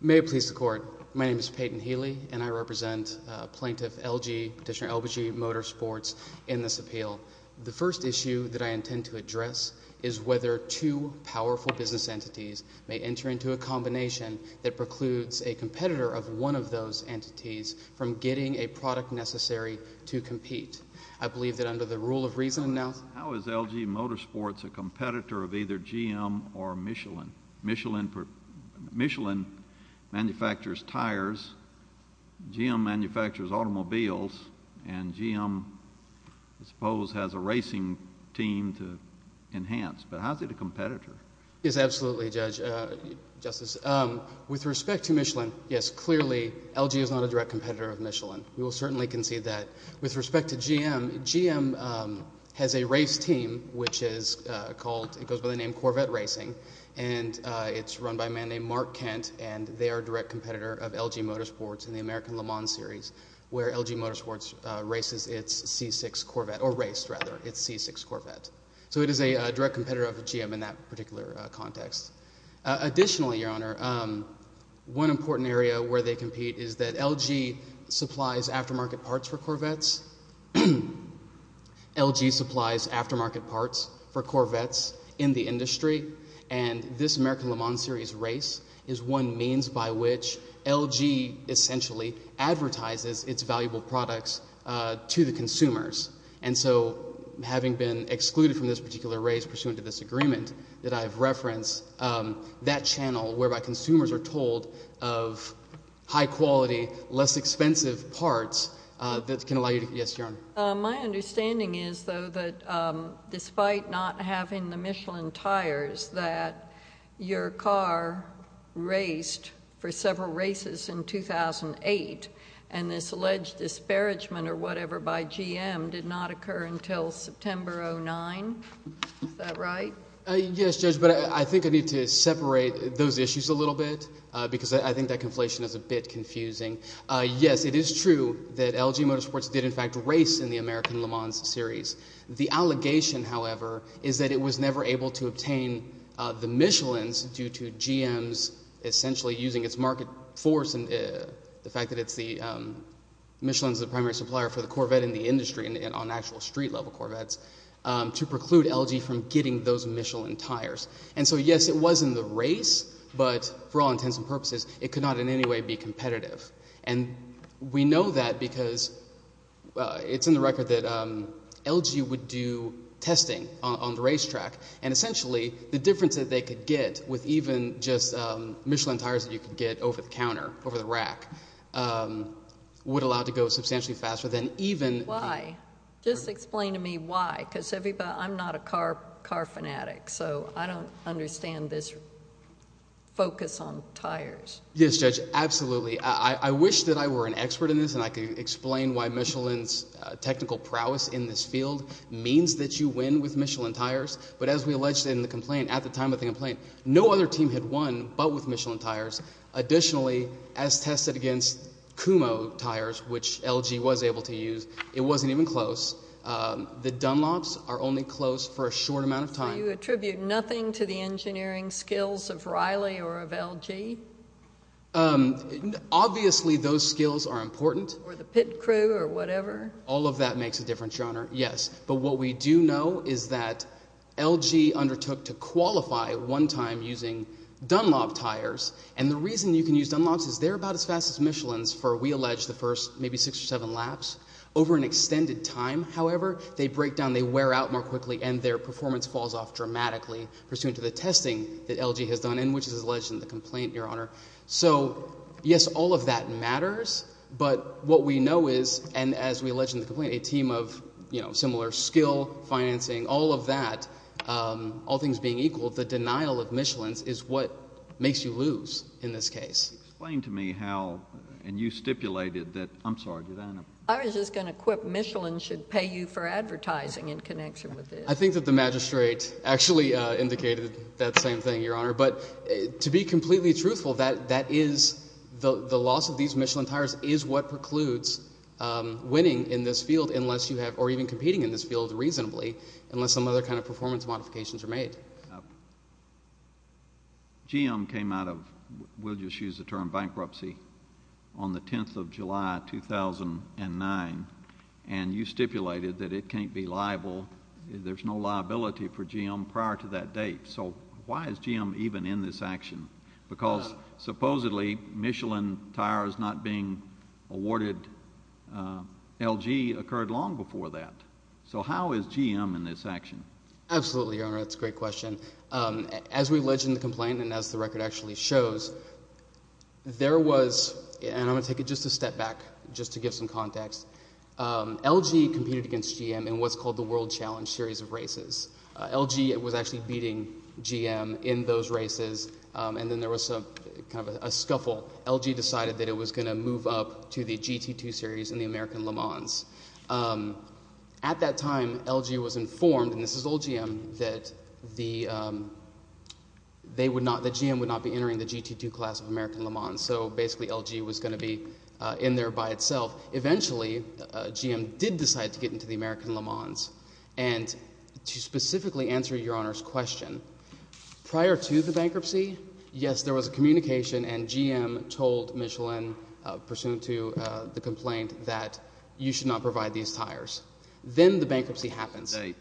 May it please the Court. My name is Peyton Healy, and I represent Plaintiff L.G., Petitioner L.B.G. Motorsports, in this appeal. The first issue that I intend to address is whether two powerful business entities may enter into a combination that precludes a competitor of one of those entities from getting a product necessary to compete. I believe that under the rule of reason announced— How is L.G. Motorsports a competitor of either GM or Michelin? Michelin manufactures tires, GM manufactures automobiles, and GM, I suppose, has a racing team to enhance, but how is it a competitor? Yes, absolutely, Justice. With respect to Michelin, yes, clearly L.G. is not a direct competitor of Michelin. We will certainly concede that. With respect to GM, GM has a race team, which is called—it goes by the name Corvette Racing, and it's run by a man named Mark Kent, and they are a direct competitor of L.G. Motorsports in the American Le Mans Series, where L.G. Motorsports races its C6 Corvette, or raced, rather, its C6 Corvette. So it is a direct competitor of GM in that particular context. Additionally, Your Honor, one important area where they compete is that L.G. supplies aftermarket parts for Corvettes. L.G. supplies aftermarket parts for Corvettes in the industry, and this American Le Mans Series race is one means by which L.G. essentially advertises its valuable products to the consumers. And so having been excluded from this particular race pursuant to this agreement that I have referenced, that channel whereby consumers are told of high-quality, less expensive parts that can allow you to—yes, Your Honor. My understanding is, though, that despite not having the Michelin tires, that your car raced for several races in 2008, and this alleged disparagement or whatever by GM did not occur until September 2009. Is that right? Yes, Judge, but I think I need to separate those issues a little bit because I think that conflation is a bit confusing. Yes, it is true that L.G. Motorsports did in fact race in the American Le Mans Series. The allegation, however, is that it was never able to obtain the Michelins due to GM's essentially using its market force and the fact that it's the—Michelin is the primary supplier for the Corvette in the industry and on actual street-level Corvettes to preclude L.G. from getting those Michelin tires. And so, yes, it was in the race, but for all intents and purposes, it could not in any way be competitive. And we know that because it's in the record that L.G. would do testing on the racetrack, and essentially the difference that they could get with even just Michelin tires that you could get over the counter, over the rack, would allow it to go substantially faster than even— I don't understand this focus on tires. Yes, Judge, absolutely. I wish that I were an expert in this and I could explain why Michelin's technical prowess in this field means that you win with Michelin tires. But as we alleged in the complaint, at the time of the complaint, no other team had won but with Michelin tires. Additionally, as tested against Kumho tires, which L.G. was able to use, it wasn't even close. The Dunlops are only close for a short amount of time. So you attribute nothing to the engineering skills of Riley or of L.G.? Obviously, those skills are important. Or the pit crew or whatever? All of that makes a difference, Your Honor. Yes. But what we do know is that L.G. undertook to qualify one time using Dunlop tires. And the reason you can use Dunlops is they're about as fast as Michelin's for, we allege, the first maybe six or seven laps. Over an extended time, however, they break down, they wear out more quickly, and their performance falls off dramatically pursuant to the testing that L.G. has done and which is alleged in the complaint, Your Honor. So, yes, all of that matters, but what we know is, and as we allege in the complaint, a team of similar skill, financing, all of that, all things being equal, the denial of Michelin's is what makes you lose in this case. Explain to me how, and you stipulated that, I'm sorry. I was just going to quip Michelin should pay you for advertising in connection with this. I think that the magistrate actually indicated that same thing, Your Honor. But to be completely truthful, that is, the loss of these Michelin tires is what precludes winning in this field unless you have, or even competing in this field reasonably, unless some other kind of performance modifications are made. GM came out of, we'll just use the term bankruptcy, on the 10th of July, 2009, and you stipulated that it can't be liable. There's no liability for GM prior to that date. So why is GM even in this action? Because supposedly Michelin tires not being awarded L.G. occurred long before that. So how is GM in this action? Absolutely, Your Honor. That's a great question. As we allege in the complaint and as the record actually shows, there was, and I'm going to take it just a step back just to give some context, L.G. competed against GM in what's called the World Challenge series of races. L.G. was actually beating GM in those races, and then there was some kind of a scuffle. L.G. decided that it was going to move up to the GT2 series in the American Le Mans. At that time, L.G. was informed, and this is old GM, that they would not, that GM would not be entering the GT2 class of American Le Mans. So basically L.G. was going to be in there by itself. Eventually, GM did decide to get into the American Le Mans. And to specifically answer Your Honor's question, prior to the bankruptcy, yes, there was a communication, and GM told Michelin, pursuant to the complaint, that you should not provide these tires. Then the bankruptcy happens. Date.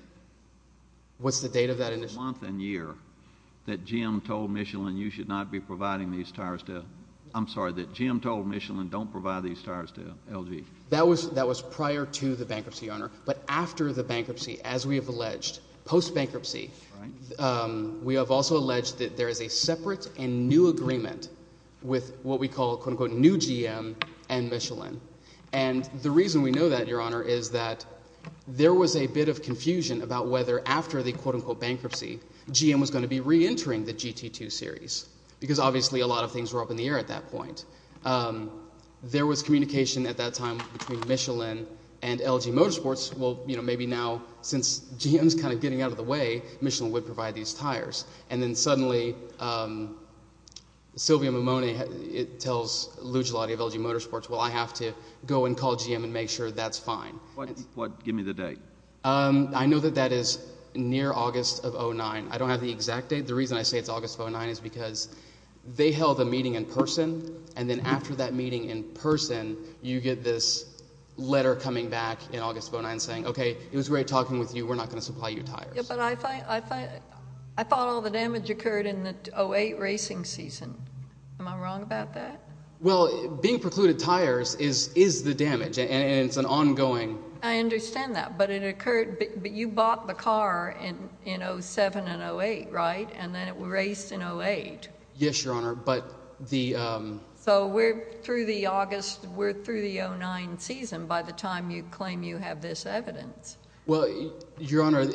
What's the date of that initial? Month and year that GM told Michelin you should not be providing these tires to, I'm sorry, that GM told Michelin don't provide these tires to L.G. That was prior to the bankruptcy, Your Honor. But after the bankruptcy, as we have alleged, post-bankruptcy, we have also alleged that there is a separate and new agreement with what we call, quote-unquote, new GM and Michelin. And the reason we know that, Your Honor, is that there was a bit of confusion about whether after the, quote-unquote, bankruptcy, GM was going to be reentering the GT2 series because obviously a lot of things were up in the air at that point. There was communication at that time between Michelin and L.G. Motorsports. Well, you know, maybe now, since GM's kind of getting out of the way, Michelin would provide these tires. And then suddenly, Sylvia Mimone tells Lujulati of L.G. Motorsports, well, I have to go and call GM and make sure that's fine. Give me the date. I know that that is near August of 2009. I don't have the exact date. The reason I say it's August of 2009 is because they held a meeting in person, and then after that meeting in person, you get this letter coming back in August of 2009 saying, okay, it was great talking with you. We're not going to supply you tires. Yeah, but I thought all the damage occurred in the 2008 racing season. Am I wrong about that? Well, being precluded tires is the damage, and it's an ongoing. I understand that, but it occurred – but you bought the car in 2007 and 2008, right? And then it raced in 2008. Yes, Your Honor, but the – So we're through the August – we're through the 2009 season by the time you claim you have this evidence. Well, Your Honor,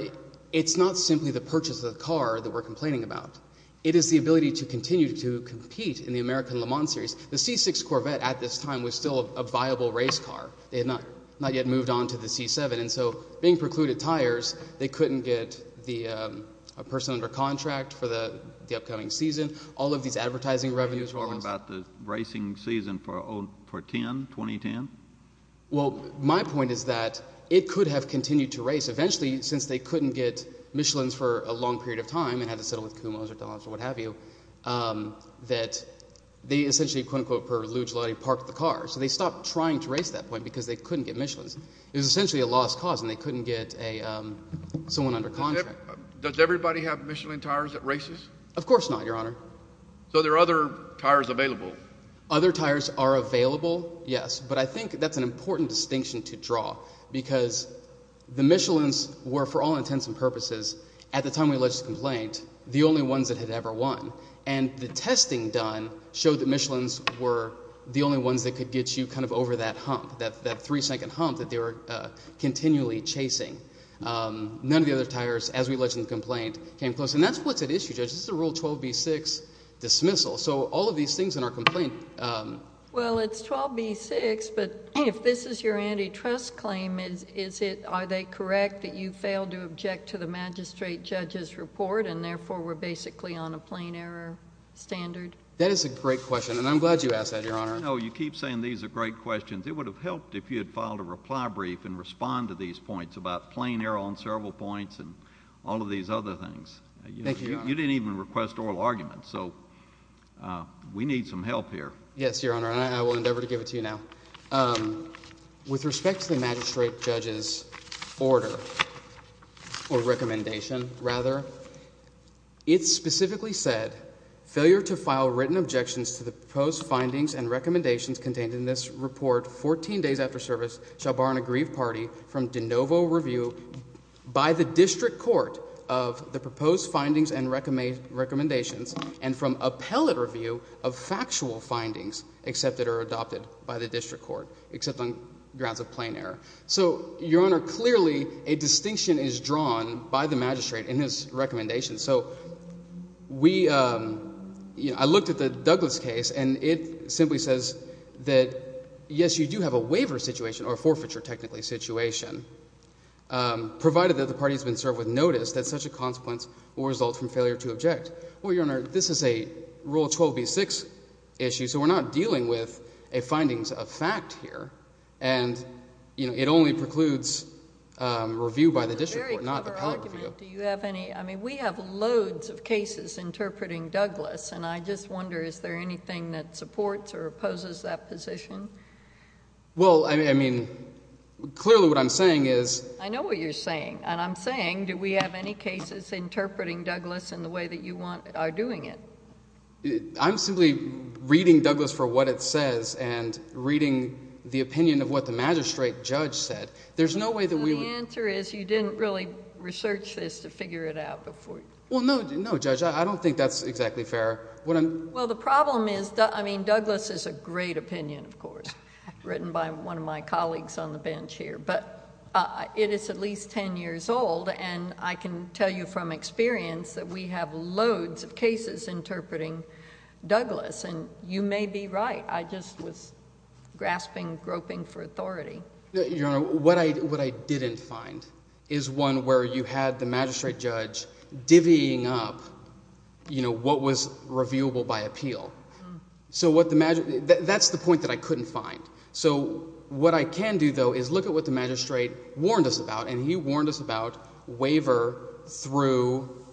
it's not simply the purchase of the car that we're complaining about. It is the ability to continue to compete in the American Le Mans Series. The C6 Corvette at this time was still a viable race car. They had not yet moved on to the C7, and so being precluded tires, they couldn't get a person under contract for the upcoming season. All of these advertising revenues were lost. Are you talking about the racing season for 10, 2010? Well, my point is that it could have continued to race. Eventually, since they couldn't get Michelins for a long period of time and had to settle with Kumos or Dollars or what have you, that they essentially, quote, unquote, per luge lottery parked the car. So they stopped trying to race at that point because they couldn't get Michelins. It was essentially a lost cause, and they couldn't get someone under contract. Does everybody have Michelin tires at races? Of course not, Your Honor. So there are other tires available. Other tires are available, yes, but I think that's an important distinction to draw because the Michelins were, for all intents and purposes, at the time we alleged the complaint, the only ones that had ever won. And the testing done showed that Michelins were the only ones that could get you kind of over that hump, that three-second hump that they were continually chasing. None of the other tires, as we alleged in the complaint, came close. And that's what's at issue, Judge. This is a Rule 12b-6 dismissal. So all of these things in our complaint— Well, it's 12b-6, but if this is your antitrust claim, are they correct that you failed to object to the magistrate judge's report and therefore were basically on a plain error standard? That is a great question, and I'm glad you asked that, Your Honor. No, you keep saying these are great questions. It would have helped if you had filed a reply brief and respond to these points about plain error on several points and all of these other things. Thank you, Your Honor. You didn't even request oral arguments, so we need some help here. Yes, Your Honor, and I will endeavor to give it to you now. With respect to the magistrate judge's order—or recommendation, rather— it specifically said, Failure to file written objections to the proposed findings and recommendations contained in this report 14 days after service shall bar an aggrieved party from de novo review by the district court of the proposed findings and recommendations and from appellate review of factual findings accepted or adopted by the district court, except on grounds of plain error. So, Your Honor, clearly a distinction is drawn by the magistrate in his recommendation. So we—I looked at the Douglas case, and it simply says that, yes, you do have a waiver situation, or a forfeiture, technically, situation, provided that the party has been served with notice that such a consequence will result from failure to object. Well, Your Honor, this is a Rule 12b-6 issue, so we're not dealing with a findings of fact here, and it only precludes review by the district court, not appellate review. Do you have any—I mean, we have loads of cases interpreting Douglas, and I just wonder, is there anything that supports or opposes that position? Well, I mean, clearly what I'm saying is— I know what you're saying, and I'm saying, do we have any cases interpreting Douglas in the way that you want—are doing it? I'm simply reading Douglas for what it says and reading the opinion of what the magistrate judge said. There's no way that we would— Well, no, Judge. I don't think that's exactly fair. Well, the problem is—I mean, Douglas is a great opinion, of course, written by one of my colleagues on the bench here. But it is at least 10 years old, and I can tell you from experience that we have loads of cases interpreting Douglas, and you may be right. I just was grasping, groping for authority. Your Honor, what I didn't find is one where you had the magistrate judge divvying up what was reviewable by appeal. So what the—that's the point that I couldn't find. So what I can do, though, is look at what the magistrate warned us about, and he warned us about waiver through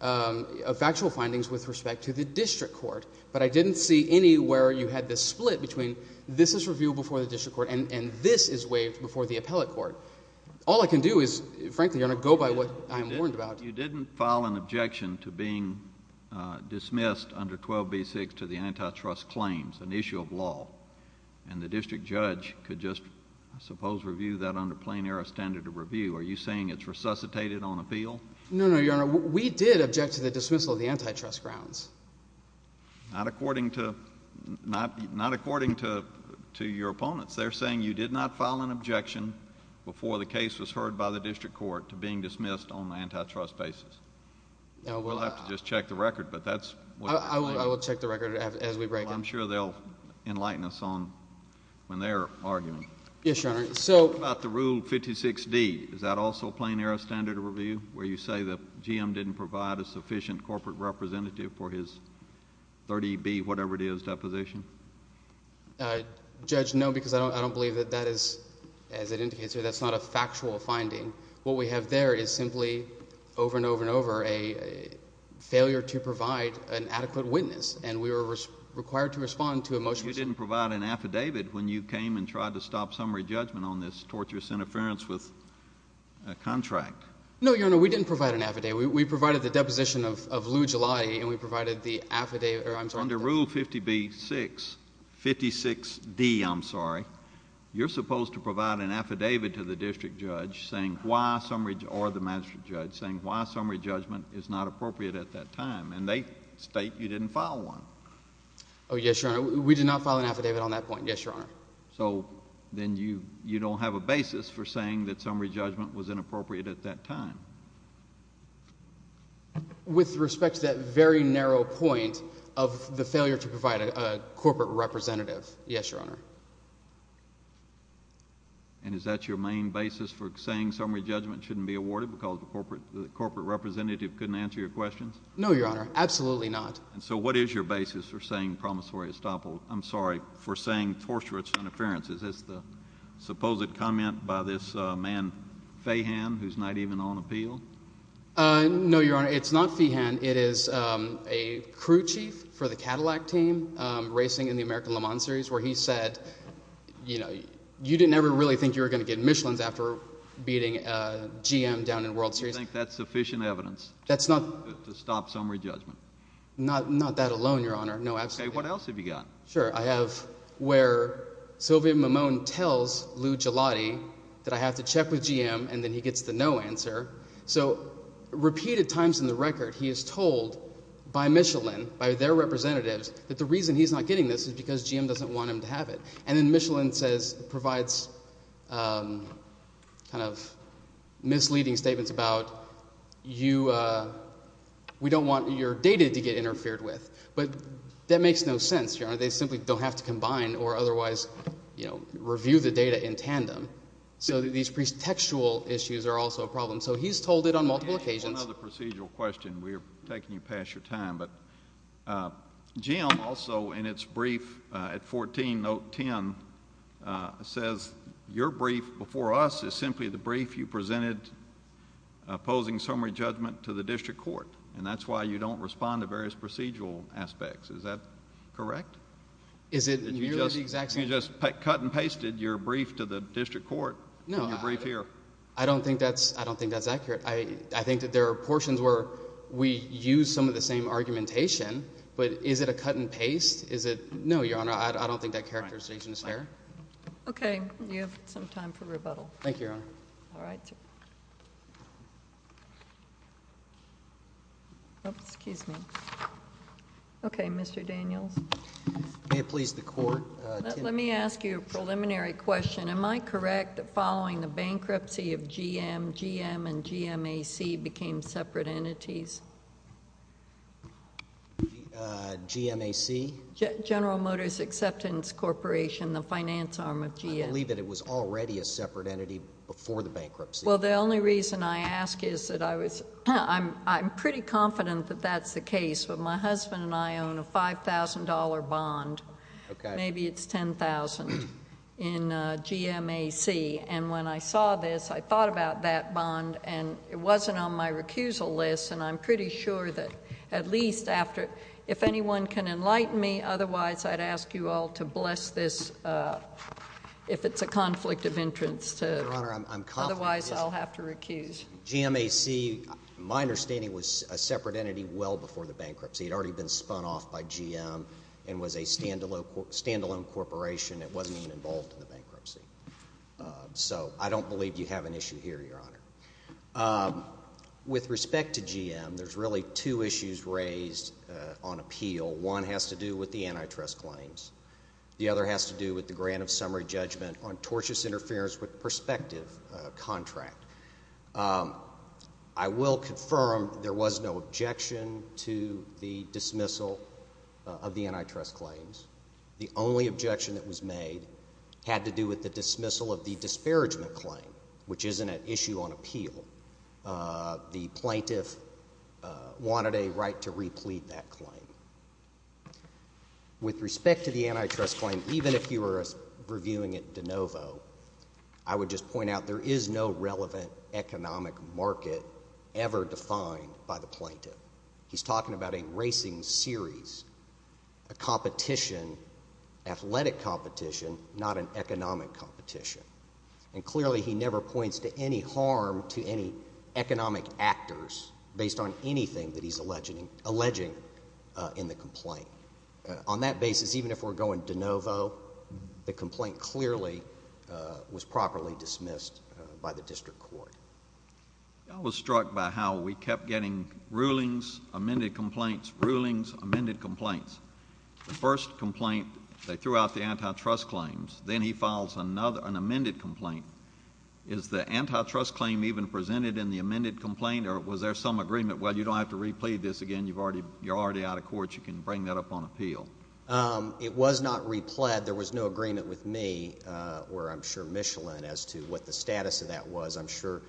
factual findings with respect to the district court. But I didn't see any where you had the split between this is reviewable before the district court and this is waived before the appellate court. All I can do is, frankly, Your Honor, go by what I am warned about. You didn't file an objection to being dismissed under 12b-6 to the antitrust claims, an issue of law, and the district judge could just, I suppose, review that under plain-error standard of review. Are you saying it's resuscitated on appeal? No, no, Your Honor. We did object to the dismissal of the antitrust grounds. Not according to your opponents. They're saying you did not file an objection before the case was heard by the district court to being dismissed on an antitrust basis. We'll have to just check the record, but that's what— I will check the record as we break it. I'm sure they'll enlighten us on when they're arguing. Yes, Your Honor. What about the Rule 56d? Is that also plain-error standard of review, where you say the GM didn't provide a sufficient corporate representative for his 30b, whatever it is, deposition? Judge, no, because I don't believe that that is, as it indicates here, that's not a factual finding. What we have there is simply, over and over and over, a failure to provide an adequate witness, and we were required to respond to a motion. You didn't provide an affidavit when you came and tried to stop summary judgment on this torturous interference with a contract. No, Your Honor, we didn't provide an affidavit. We provided the deposition of Lou Gelati, and we provided the affidavit— Under Rule 56d, you're supposed to provide an affidavit to the district judge or the magistrate judge saying why summary judgment is not appropriate at that time, and they state you didn't file one. Oh, yes, Your Honor, we did not file an affidavit on that point, yes, Your Honor. So then you don't have a basis for saying that summary judgment was inappropriate at that time. With respect to that very narrow point of the failure to provide a corporate representative, yes, Your Honor. And is that your main basis for saying summary judgment shouldn't be awarded because the corporate representative couldn't answer your questions? No, Your Honor, absolutely not. And so what is your basis for saying promissory—I'm sorry, for saying torturous interference? Is this the supposed comment by this man Fahan who's not even on appeal? No, Your Honor, it's not Fahan. It is a crew chief for the Cadillac team racing in the American Le Mans series where he said you didn't ever really think you were going to get Michelin's after beating GM down in World Series. Do you think that's sufficient evidence to stop summary judgment? Not that alone, Your Honor, no, absolutely not. Okay, what else have you got? Sure. I have where Sylvia Mimone tells Lou Gelati that I have to check with GM and then he gets the no answer. So repeated times in the record he is told by Michelin, by their representatives, that the reason he's not getting this is because GM doesn't want him to have it. And then Michelin says—provides kind of misleading statements about you—we don't want your data to get interfered with. But that makes no sense, Your Honor. They simply don't have to combine or otherwise review the data in tandem. So these pretextual issues are also a problem. So he's told it on multiple occasions. I have another procedural question. We're taking you past your time. But GM also in its brief at 14, note 10, says your brief before us is simply the brief you presented opposing summary judgment to the district court, and that's why you don't respond to various procedural aspects. Is that correct? Is it nearly the exact same? You just cut and pasted your brief to the district court in your brief here. No, I don't think that's accurate. I think that there are portions where we use some of the same argumentation, but is it a cut and paste? Is it—no, Your Honor, I don't think that characterization is fair. Okay. You have some time for rebuttal. Thank you, Your Honor. All right. Excuse me. Okay, Mr. Daniels. May it please the Court. Let me ask you a preliminary question. Am I correct that following the bankruptcy of GM, GM and GMAC became separate entities? GMAC? General Motors Acceptance Corporation, the finance arm of GM. I believe that it was already a separate entity before the bankruptcy. Well, the only reason I ask is that I was—I'm pretty confident that that's the case. But my husband and I own a $5,000 bond. Maybe it's $10,000. In GMAC. And when I saw this, I thought about that bond, and it wasn't on my recusal list, and I'm pretty sure that at least after—if anyone can enlighten me, otherwise I'd ask you all to bless this if it's a conflict of interest. Your Honor, I'm confident— Otherwise I'll have to recuse. GMAC, my understanding, was a separate entity well before the bankruptcy. It had already been spun off by GM and was a stand-alone corporation. It wasn't even involved in the bankruptcy. So I don't believe you have an issue here, Your Honor. With respect to GM, there's really two issues raised on appeal. One has to do with the antitrust claims. The other has to do with the grant of summary judgment on tortious interference with prospective contract. I will confirm there was no objection to the dismissal of the antitrust claims. The only objection that was made had to do with the dismissal of the disparagement claim, which isn't an issue on appeal. The plaintiff wanted a right to replete that claim. With respect to the antitrust claim, even if you were reviewing it de novo, I would just point out there is no relevant economic market ever defined by the plaintiff. He's talking about a racing series, a competition, athletic competition, not an economic competition. And clearly he never points to any harm to any economic actors based on anything that he's alleging in the complaint. On that basis, even if we're going de novo, the complaint clearly was properly dismissed by the district court. I was struck by how we kept getting rulings, amended complaints, rulings, amended complaints. The first complaint, they threw out the antitrust claims. Then he files another, an amended complaint. Is the antitrust claim even presented in the amended complaint, or was there some agreement? Well, you don't have to replete this again. You're already out of court. You can bring that up on appeal. It was not replete. There was no agreement with me, or I'm sure Michelin, as to what the status of that was. I'm sure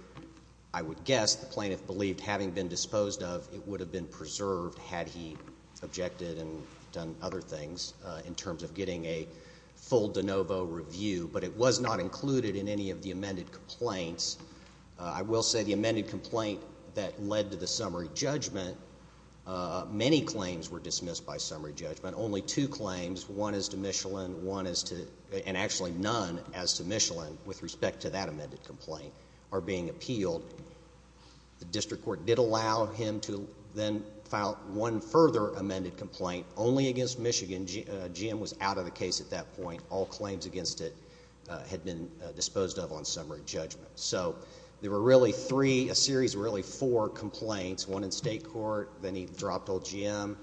I would guess the plaintiff believed having been disposed of, it would have been preserved, had he objected and done other things in terms of getting a full de novo review. But it was not included in any of the amended complaints. I will say the amended complaint that led to the summary judgment, many claims were dismissed by summary judgment, only two claims. One is to Michelin, and actually none as to Michelin with respect to that amended complaint are being appealed. The district court did allow him to then file one further amended complaint only against Michigan. GM was out of the case at that point. All claims against it had been disposed of on summary judgment. So there were really three, a series of really four complaints, one in state court. Then he dropped old GM.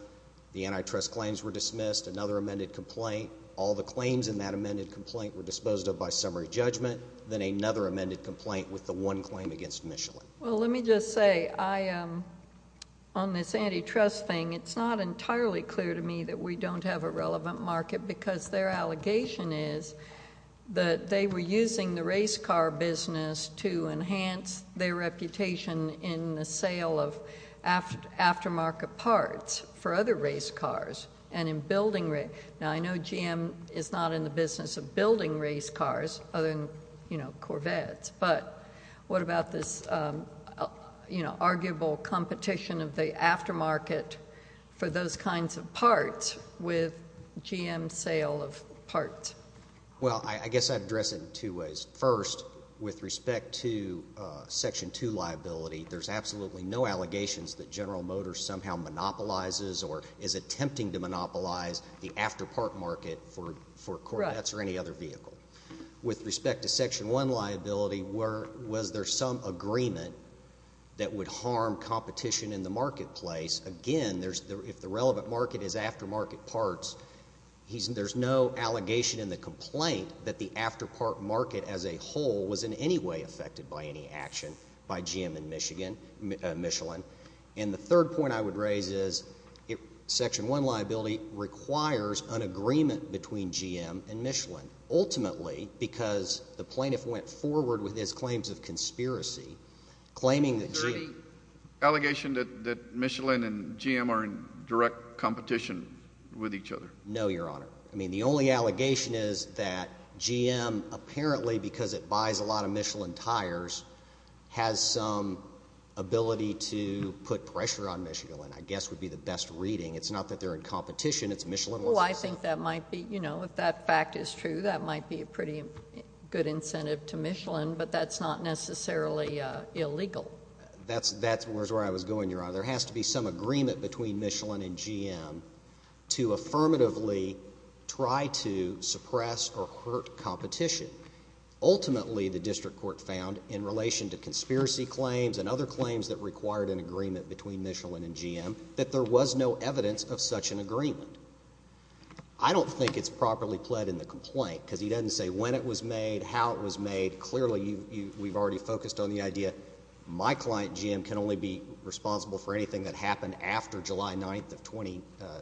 The antitrust claims were dismissed. Another amended complaint. All the claims in that amended complaint were disposed of by summary judgment. Then another amended complaint with the one claim against Michelin. Well, let me just say, on this antitrust thing, it's not entirely clear to me that we don't have a relevant market because their allegation is that they were using the race car business to enhance their reputation in the sale of aftermarket parts for other race cars and in building race cars. Now, I know GM is not in the business of building race cars other than Corvettes, but what about this arguable competition of the aftermarket for those kinds of parts with GM's sale of parts? Well, I guess I'd address it in two ways. First, with respect to Section 2 liability, there's absolutely no allegations that General Motors somehow monopolizes or is attempting to monopolize the afterpart market for Corvettes or any other vehicle. With respect to Section 1 liability, was there some agreement that would harm competition in the marketplace? Again, if the relevant market is aftermarket parts, there's no allegation in the complaint that the afterpart market as a whole was in any way affected by any action by GM and Michelin. And the third point I would raise is Section 1 liability requires an agreement between GM and Michelin, ultimately because the plaintiff went forward with his claims of conspiracy, claiming that GM— No, Your Honor. I mean, the only allegation is that GM, apparently because it buys a lot of Michelin tires, has some ability to put pressure on Michelin, I guess would be the best reading. It's not that they're in competition, it's Michelin— Well, I think that might be, you know, if that fact is true, that might be a pretty good incentive to Michelin, but that's not necessarily illegal. That's where I was going, Your Honor. There has to be some agreement between Michelin and GM to affirmatively try to suppress or hurt competition. Ultimately, the district court found, in relation to conspiracy claims and other claims that required an agreement between Michelin and GM, that there was no evidence of such an agreement. I don't think it's properly pled in the complaint because he doesn't say when it was made, how it was made. Clearly, we've already focused on the idea, my client, GM, can only be responsible for anything that happened after July 9th of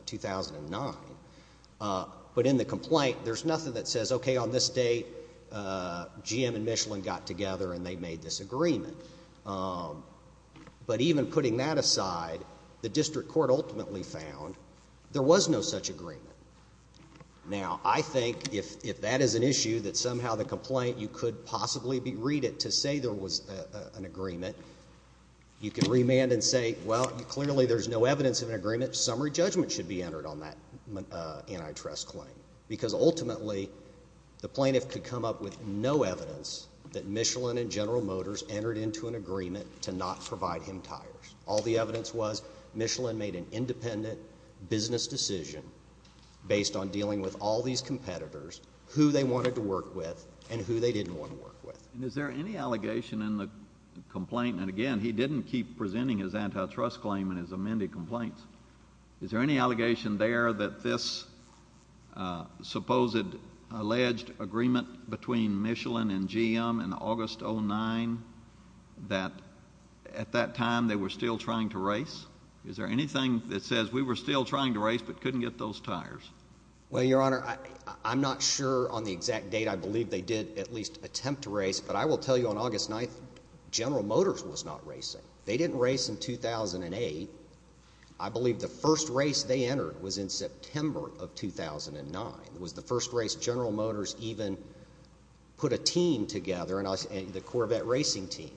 2009. But in the complaint, there's nothing that says, okay, on this date, GM and Michelin got together and they made this agreement. But even putting that aside, the district court ultimately found there was no such agreement. Now, I think if that is an issue, that somehow the complaint, you could possibly read it to say there was an agreement, you can remand and say, well, clearly there's no evidence of an agreement, summary judgment should be entered on that antitrust claim. Because ultimately, the plaintiff could come up with no evidence that Michelin and GM entered into an agreement to not provide him tires. All the evidence was Michelin made an independent business decision based on dealing with all these competitors, who they wanted to work with, and who they didn't want to work with. And is there any allegation in the complaint, and again, he didn't keep presenting his antitrust claim in his amended complaint, is there any allegation there that this supposed alleged agreement between Michelin and GM in August 2009, that at that time they were still trying to race? Is there anything that says we were still trying to race but couldn't get those tires? Well, Your Honor, I'm not sure on the exact date I believe they did at least attempt to race, but I will tell you on August 9th, General Motors was not racing. They didn't race in 2008. I believe the first race they entered was in September of 2009. It was the first race General Motors even put a team together, the Corvette racing team.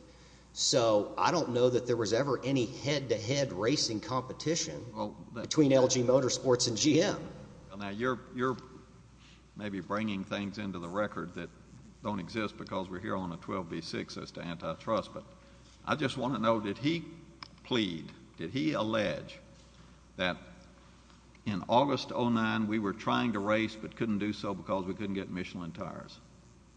So I don't know that there was ever any head-to-head racing competition between LG Motorsports and GM. Now you're maybe bringing things into the record that don't exist because we're here on a 12B6 as to antitrust, but I just want to know, did he plead, did he allege that in August 2009 we were trying to race but couldn't do so because we couldn't get Michelin tires?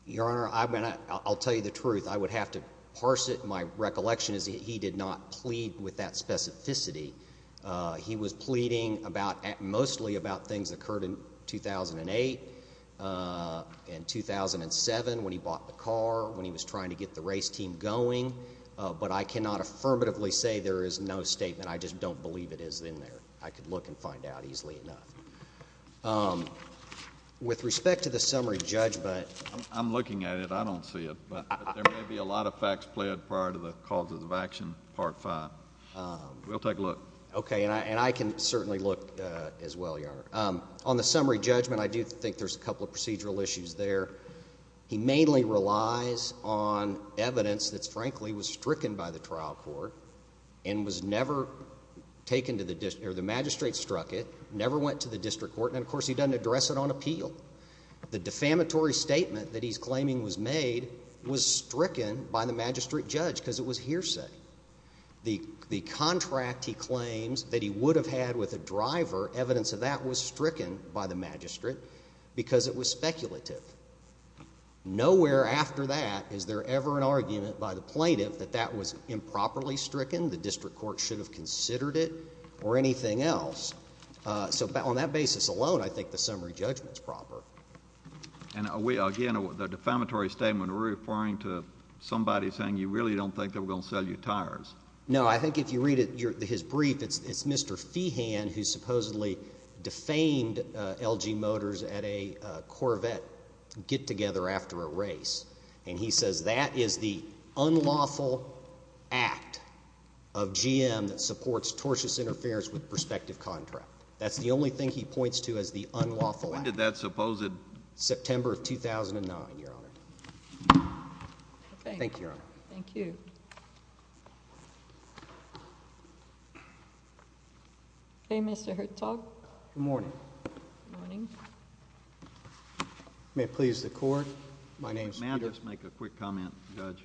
Your Honor, I'll tell you the truth. I would have to parse it. My recollection is that he did not plead with that specificity. He was pleading mostly about things that occurred in 2008 and 2007 when he bought the car, when he was trying to get the race team going, but I cannot affirmatively say there is no statement. I just don't believe it is in there. I could look and find out easily enough. With respect to the summary judgment— I'm looking at it. I don't see it, but there may be a lot of facts pled prior to the causes of action part five. We'll take a look. Okay, and I can certainly look as well, Your Honor. On the summary judgment, I do think there's a couple of procedural issues there. He mainly relies on evidence that, frankly, was stricken by the trial court and was never taken to the—the magistrate struck it, never went to the district court, and, of course, he doesn't address it on appeal. The defamatory statement that he's claiming was made was stricken by the magistrate judge because it was hearsay. The contract he claims that he would have had with a driver, evidence of that, was stricken by the magistrate because it was speculative. Nowhere after that is there ever an argument by the plaintiff that that was improperly stricken. The district court should have considered it or anything else. So on that basis alone, I think the summary judgment is proper. And again, the defamatory statement, we're referring to somebody saying you really don't think they're going to sell you tires. No, I think if you read his brief, it's Mr. Feehan who supposedly defamed LG Motors at a Corvette get-together after a race. And he says that is the unlawful act of GM that supports tortious interference with prospective contract. That's the only thing he points to as the unlawful act. When did that suppose it? September of 2009, Your Honor. Thank you, Your Honor. Thank you. Mr. Hertog? Good morning. Good morning. May it please the Court, my name is Peter. May I just make a quick comment, Judge?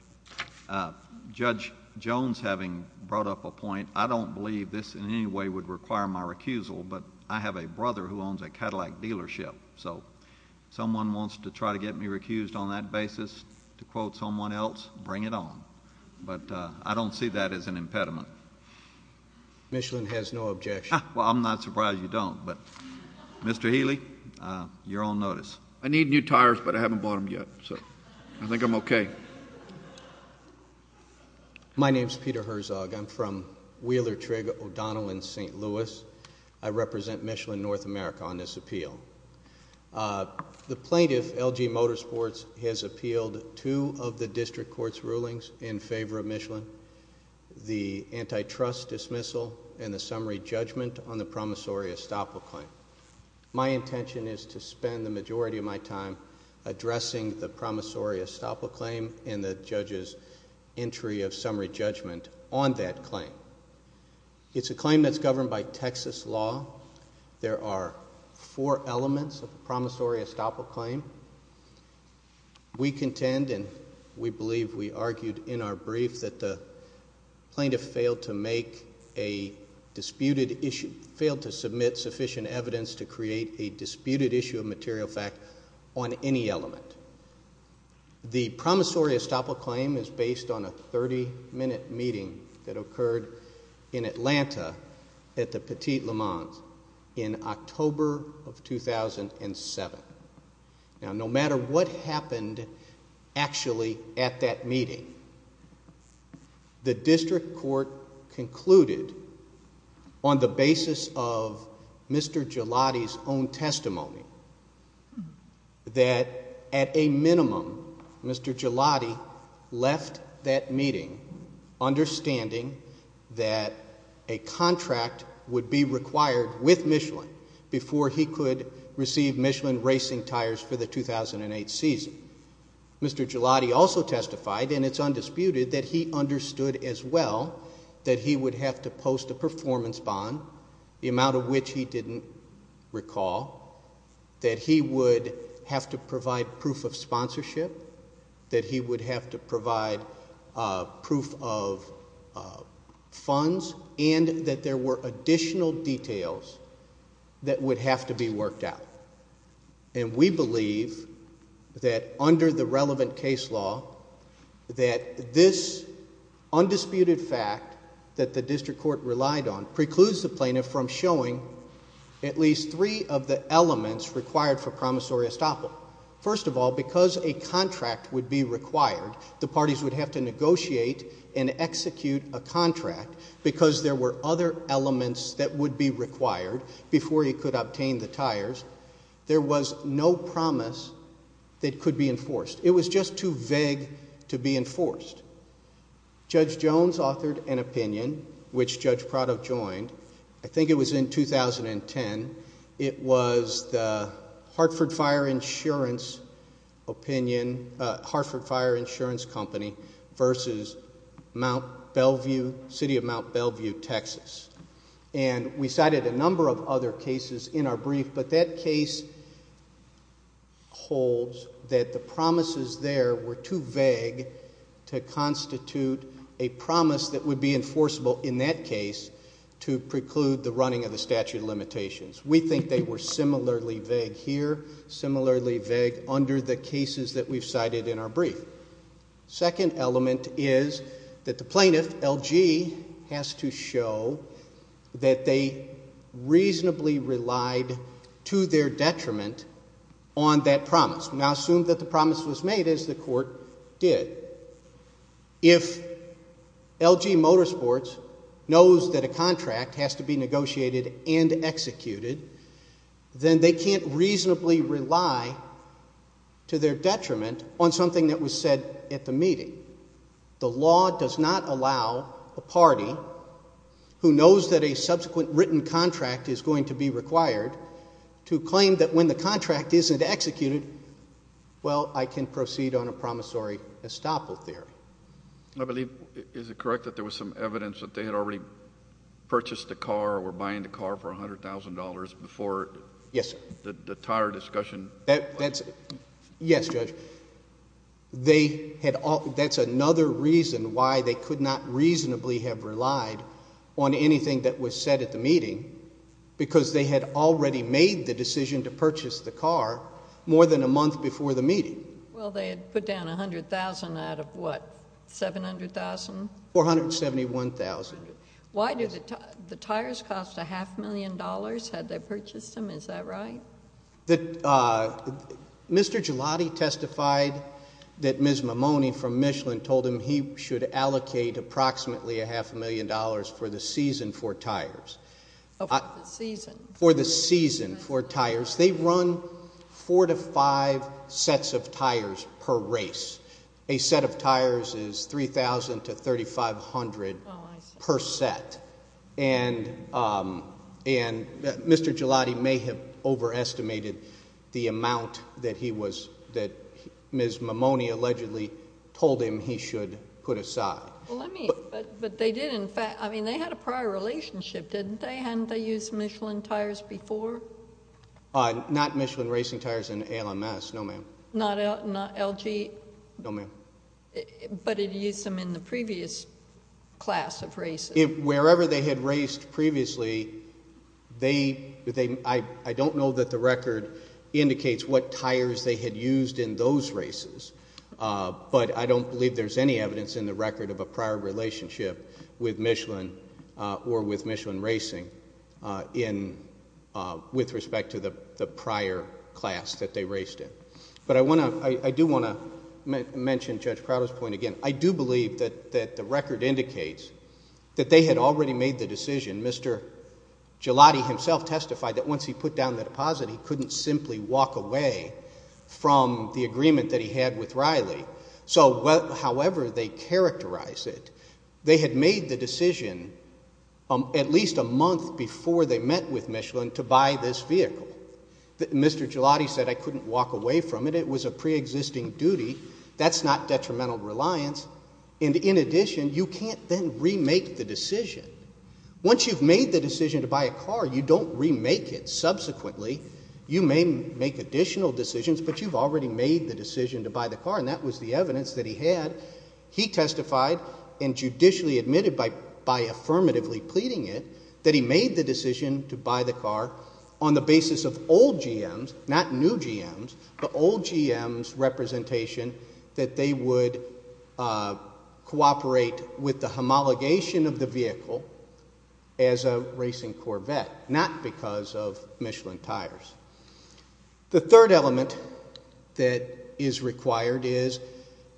Judge Jones having brought up a point, I don't believe this in any way would require my recusal, but I have a brother who owns a Cadillac dealership. So if someone wants to try to get me recused on that basis to quote someone else, bring it on. But I don't see that as an impediment. Michelin has no objection. Well, I'm not surprised you don't. But Mr. Healy, you're on notice. I need new tires, but I haven't bought them yet. So I think I'm okay. My name is Peter Herzog. I'm from Wheeler Trig, O'Donnell in St. Louis. I represent Michelin North America on this appeal. The plaintiff, LG Motorsports, has appealed two of the district court's rulings in favor of Michelin, the antitrust dismissal and the summary judgment on the promissory estoppel claim. My intention is to spend the majority of my time addressing the promissory estoppel claim and the judge's entry of summary judgment on that claim. It's a claim that's governed by Texas law. There are four elements of the promissory estoppel claim. We contend and we believe we argued in our brief that the plaintiff failed to make a disputed issue, failed to submit sufficient evidence to create a disputed issue of material fact on any element. The promissory estoppel claim is based on a 30-minute meeting that occurred in Atlanta at the Petit Le Mans in October of 2007. Now, no matter what happened actually at that meeting, the district court concluded on the basis of Mr. Gelati's own testimony that at a minimum, Mr. Gelati left that meeting understanding that a contract would be required with Michelin before he could receive Michelin racing tires for the 2008 season. Mr. Gelati also testified, and it's undisputed, that he understood as well that he would have to post a performance bond, the amount of which he didn't recall, that he would have to provide proof of sponsorship, that he would have to provide proof of funds, and that there were additional details that would have to be worked out. And we believe that under the relevant case law, that this undisputed fact that the district court relied on precludes the plaintiff from showing at least three of the elements required for promissory estoppel. First of all, because a contract would be required, the parties would have to negotiate and execute a contract, because there were other elements that would be required before he could obtain the tires, there was no promise that could be enforced. It was just too vague to be enforced. Judge Jones authored an opinion, which Judge Prado joined. I think it was in 2010. It was the Hartford Fire Insurance opinion, Hartford Fire Insurance Company versus Mount Bellevue, City of Mount Bellevue, Texas. And we cited a number of other cases in our brief, but that case holds that the promises there were too vague to constitute a promise that would be enforceable in that case to preclude the running of the statute of limitations. We think they were similarly vague here, similarly vague under the cases that we've cited in our brief. Second element is that the plaintiff, LG, has to show that they reasonably relied to their detriment on that promise. We now assume that the promise was made, as the Court did. If LG Motorsports knows that a contract has to be negotiated and executed, then they can't reasonably rely to their detriment on something that was said at the meeting. The law does not allow a party who knows that a subsequent written contract is going to be required to claim that when the contract isn't executed, well, I can proceed on a promissory estoppel theory. I believe, is it correct that there was some evidence that they had already purchased a car or were buying the car for $100,000 before the entire discussion? Yes, Judge. That's another reason why they could not reasonably have relied on anything that was said at the meeting because they had already made the decision to purchase the car more than a month before the meeting. Well, they had put down $100,000 out of what, $700,000? $471,000. Why did the tires cost a half million dollars had they purchased them? Is that right? Mr. Gelati testified that Ms. Mimone from Michelin told him he should allocate approximately a half million dollars for the season for tires. For the season. For the season for tires. They run four to five sets of tires per race. A set of tires is $3,000 to $3,500 per set. And Mr. Gelati may have overestimated the amount that he was, that Ms. Mimone allegedly told him he should put aside. But they did in fact, I mean, they had a prior relationship, didn't they? Hadn't they used Michelin tires before? Not Michelin racing tires in ALMS, no, ma'am. Not LG? No, ma'am. But it used them in the previous class of races. Wherever they had raced previously, they, I don't know that the record indicates what tires they had used in those races. But I don't believe there's any evidence in the record of a prior relationship with Michelin or with Michelin racing in, with respect to the prior class that they raced in. But I want to, I do want to mention Judge Crowder's point again. I do believe that the record indicates that they had already made the decision. Mr. Gelati himself testified that once he put down the deposit, he couldn't simply walk away from the agreement that he had with Riley. So however they characterize it, they had made the decision at least a month before they met with Michelin to buy this vehicle. Mr. Gelati said, I couldn't walk away from it. It was a preexisting duty. That's not detrimental reliance. And in addition, you can't then remake the decision. Once you've made the decision to buy a car, you don't remake it. Subsequently, you may make additional decisions, but you've already made the decision to buy the car. And that was the evidence that he had. He testified and judicially admitted by, by affirmatively pleading it, that he made the decision to buy the car on the basis of old GMs, not new GMs, but old GMs representation that they would cooperate with the homologation of the vehicle as a racing Corvette, not because of Michelin tires. The third element that is required is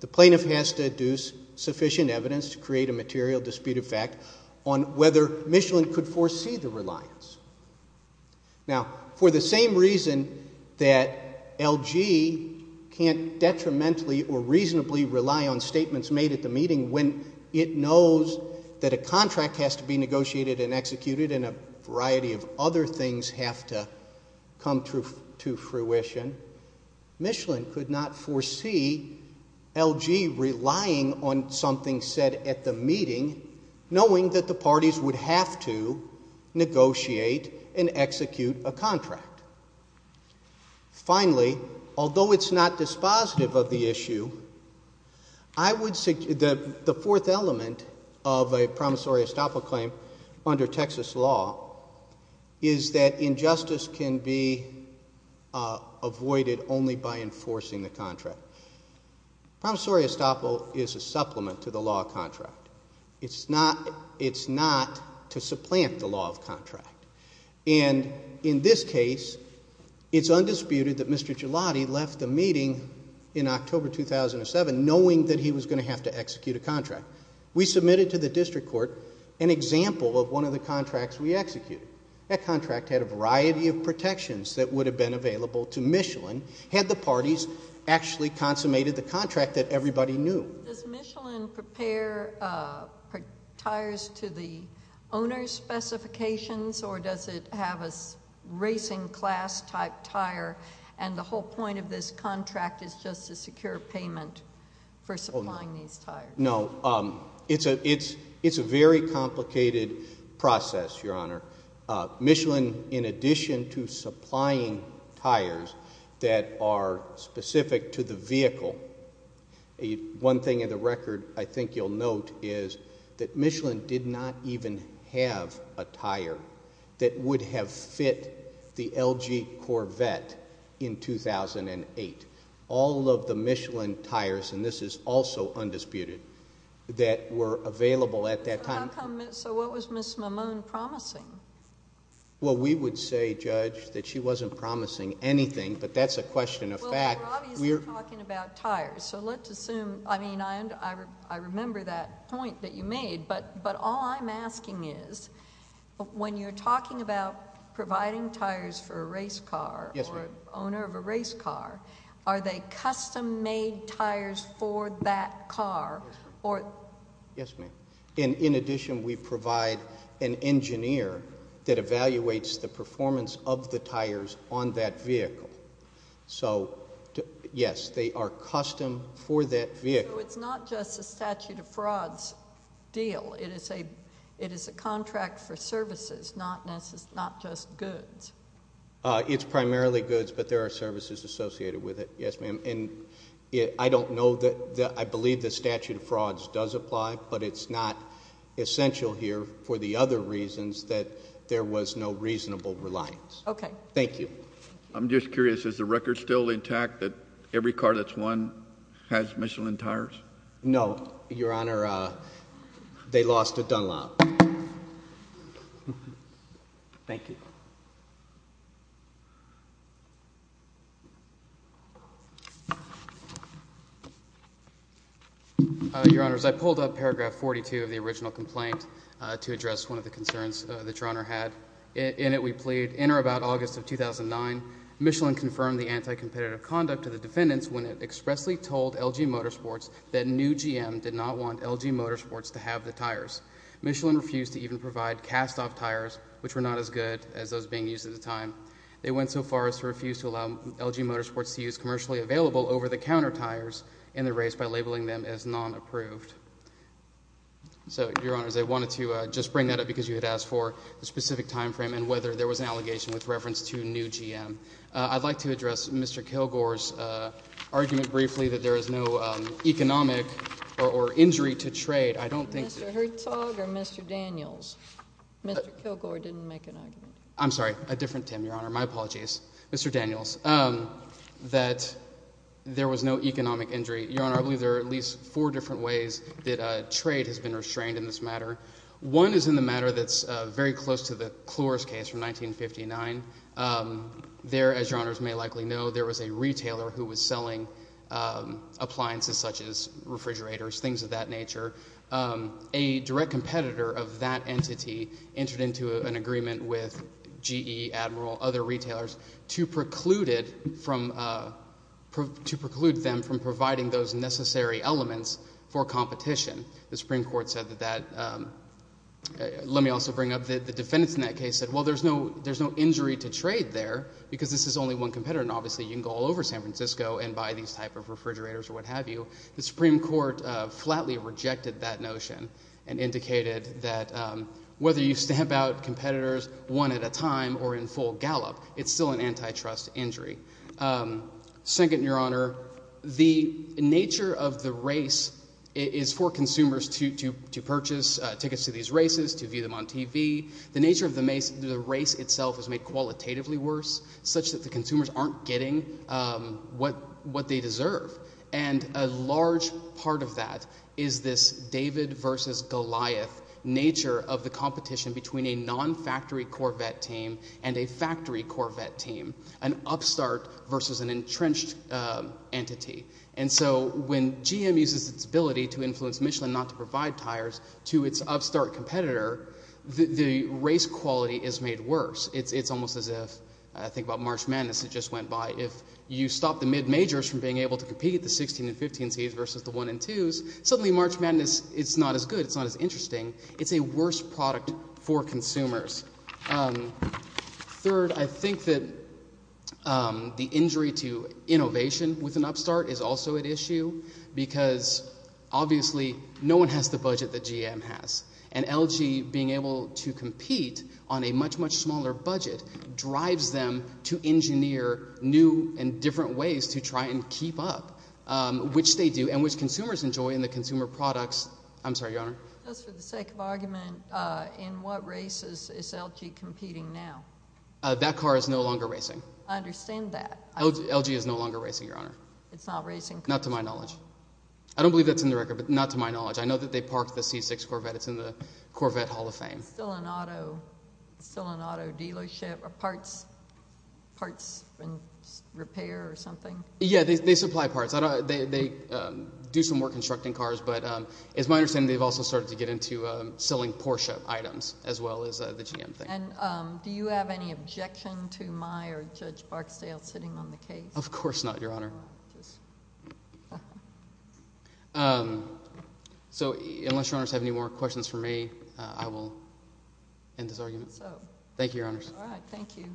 the plaintiff has to deduce sufficient evidence to create a material dispute of fact on whether Michelin could foresee the reliance. Now, for the same reason that LG can't detrimentally or reasonably rely on statements made at the meeting when it knows that a contract has to be negotiated and executed and a variety of other things have to come to fruition, Michelin could not foresee LG relying on something said at the meeting, knowing that the parties would have to negotiate and execute a contract. Finally, although it's not dispositive of the issue, I would, the fourth element of a promissory estoppel claim under Texas law is that injustice can be avoided only by enforcing the contract. Promissory estoppel is a supplement to the law of contract. It's not, it's not to supplant the law of contract. And in this case, it's undisputed that Mr. Gelati left the meeting in October 2007 knowing that he was going to have to execute a contract. We submitted to the district court an example of one of the contracts we executed. That contract had a variety of protections that would have been available to Michelin had the parties actually consummated the contract that everybody knew. Does Michelin prepare tires to the owner's specifications or does it have a racing class type tire and the whole point of this contract is just to secure payment for supplying these tires? No. It's a very complicated process, Your Honor. Michelin, in addition to supplying tires that are specific to the vehicle, one thing in the record I think you'll note is that Michelin did not even have a tire that would have fit the LG Corvette in 2008. All of the Michelin tires, and this is also undisputed, that were available at that time. So what was Ms. Mimone promising? Well, we would say, Judge, that she wasn't promising anything, but that's a question of fact. Well, we're obviously talking about tires, so let's assume, I mean, I remember that point that you made, but all I'm asking is when you're talking about providing tires for a race car or owner of a race car, are they custom-made tires for that car? Yes, ma'am. And in addition, we provide an engineer that evaluates the performance of the tires on that vehicle. So, yes, they are custom for that vehicle. So it's not just a statute of frauds deal. It is a contract for services, not just goods. It's primarily goods, but there are services associated with it, yes, ma'am. And I don't know that, I believe the statute of frauds does apply, but it's not essential here for the other reasons that there was no reasonable reliance. Okay. Thank you. I'm just curious, is the record still intact that every car that's won has Michelin tires? No, Your Honor, they lost at Dunlop. Thank you. Your Honors, I pulled up paragraph 42 of the original complaint to address one of the concerns that Your Honor had. In it, we plead, in or about August of 2009, Michelin confirmed the anti-competitive conduct of the defendants when it expressly told LG Motorsports that new GM did not want LG Motorsports to have the tires. Michelin refused to even provide cast-off tires, which were not as good as those being used at the time. They went so far as to refuse to allow LG Motorsports to use commercially available over-the-counter tires in the race by labeling them as non-approved. So, Your Honors, I wanted to just bring that up because you had asked for the specific time frame and whether there was an allegation with reference to new GM. I'd like to address Mr. Kilgore's argument briefly that there is no economic or injury to trade. Mr. Hertzog or Mr. Daniels? Mr. Kilgore didn't make an argument. I'm sorry, a different Tim, Your Honor. My apologies. Mr. Daniels. That there was no economic injury. Your Honor, I believe there are at least four different ways that trade has been restrained in this matter. One is in the matter that's very close to the Chloris case from 1959. There, as Your Honors may likely know, there was a retailer who was selling appliances such as refrigerators, things of that nature. A direct competitor of that entity entered into an agreement with GE, Admiral, other retailers to preclude them from providing those necessary elements for competition. The Supreme Court said that that – let me also bring up the defendants in that case said, well, there's no injury to trade there because this is only one competitor. Obviously, you can go all over San Francisco and buy these type of refrigerators or what have you. The Supreme Court flatly rejected that notion and indicated that whether you stamp out competitors one at a time or in full gallop, it's still an antitrust injury. Second, Your Honor, the nature of the race is for consumers to purchase tickets to these races, to view them on TV. The nature of the race itself is made qualitatively worse such that the consumers aren't getting what they deserve. And a large part of that is this David versus Goliath nature of the competition between a non-factory Corvette team and a factory Corvette team, an upstart versus an entrenched entity. And so when GM uses its ability to influence Michelin not to provide tires to its upstart competitor, the race quality is made worse. It's almost as if – I think about March Madness that just went by. If you stop the mid-majors from being able to compete, the 16 and 15 Cs versus the 1 and 2s, suddenly March Madness, it's not as good. It's not as interesting. It's a worse product for consumers. Third, I think that the injury to innovation with an upstart is also at issue because obviously no one has the budget that GM has. And LG being able to compete on a much, much smaller budget drives them to engineer new and different ways to try and keep up, which they do and which consumers enjoy in the consumer products. I'm sorry, Your Honor. Just for the sake of argument, in what races is LG competing now? That car is no longer racing. I understand that. LG is no longer racing, Your Honor. It's not racing? Not to my knowledge. I don't believe that's in the record, but not to my knowledge. I know that they parked the C6 Corvette. It's in the Corvette Hall of Fame. Still an auto dealership or parts repair or something? Yeah, they supply parts. They do some work constructing cars, but it's my understanding they've also started to get into selling Porsche items as well as the GM thing. And do you have any objection to my or Judge Barksdale sitting on the case? Of course not, Your Honor. So unless Your Honors have any more questions for me, I will end this argument. Thank you, Your Honors. All right. Thank you. Okay.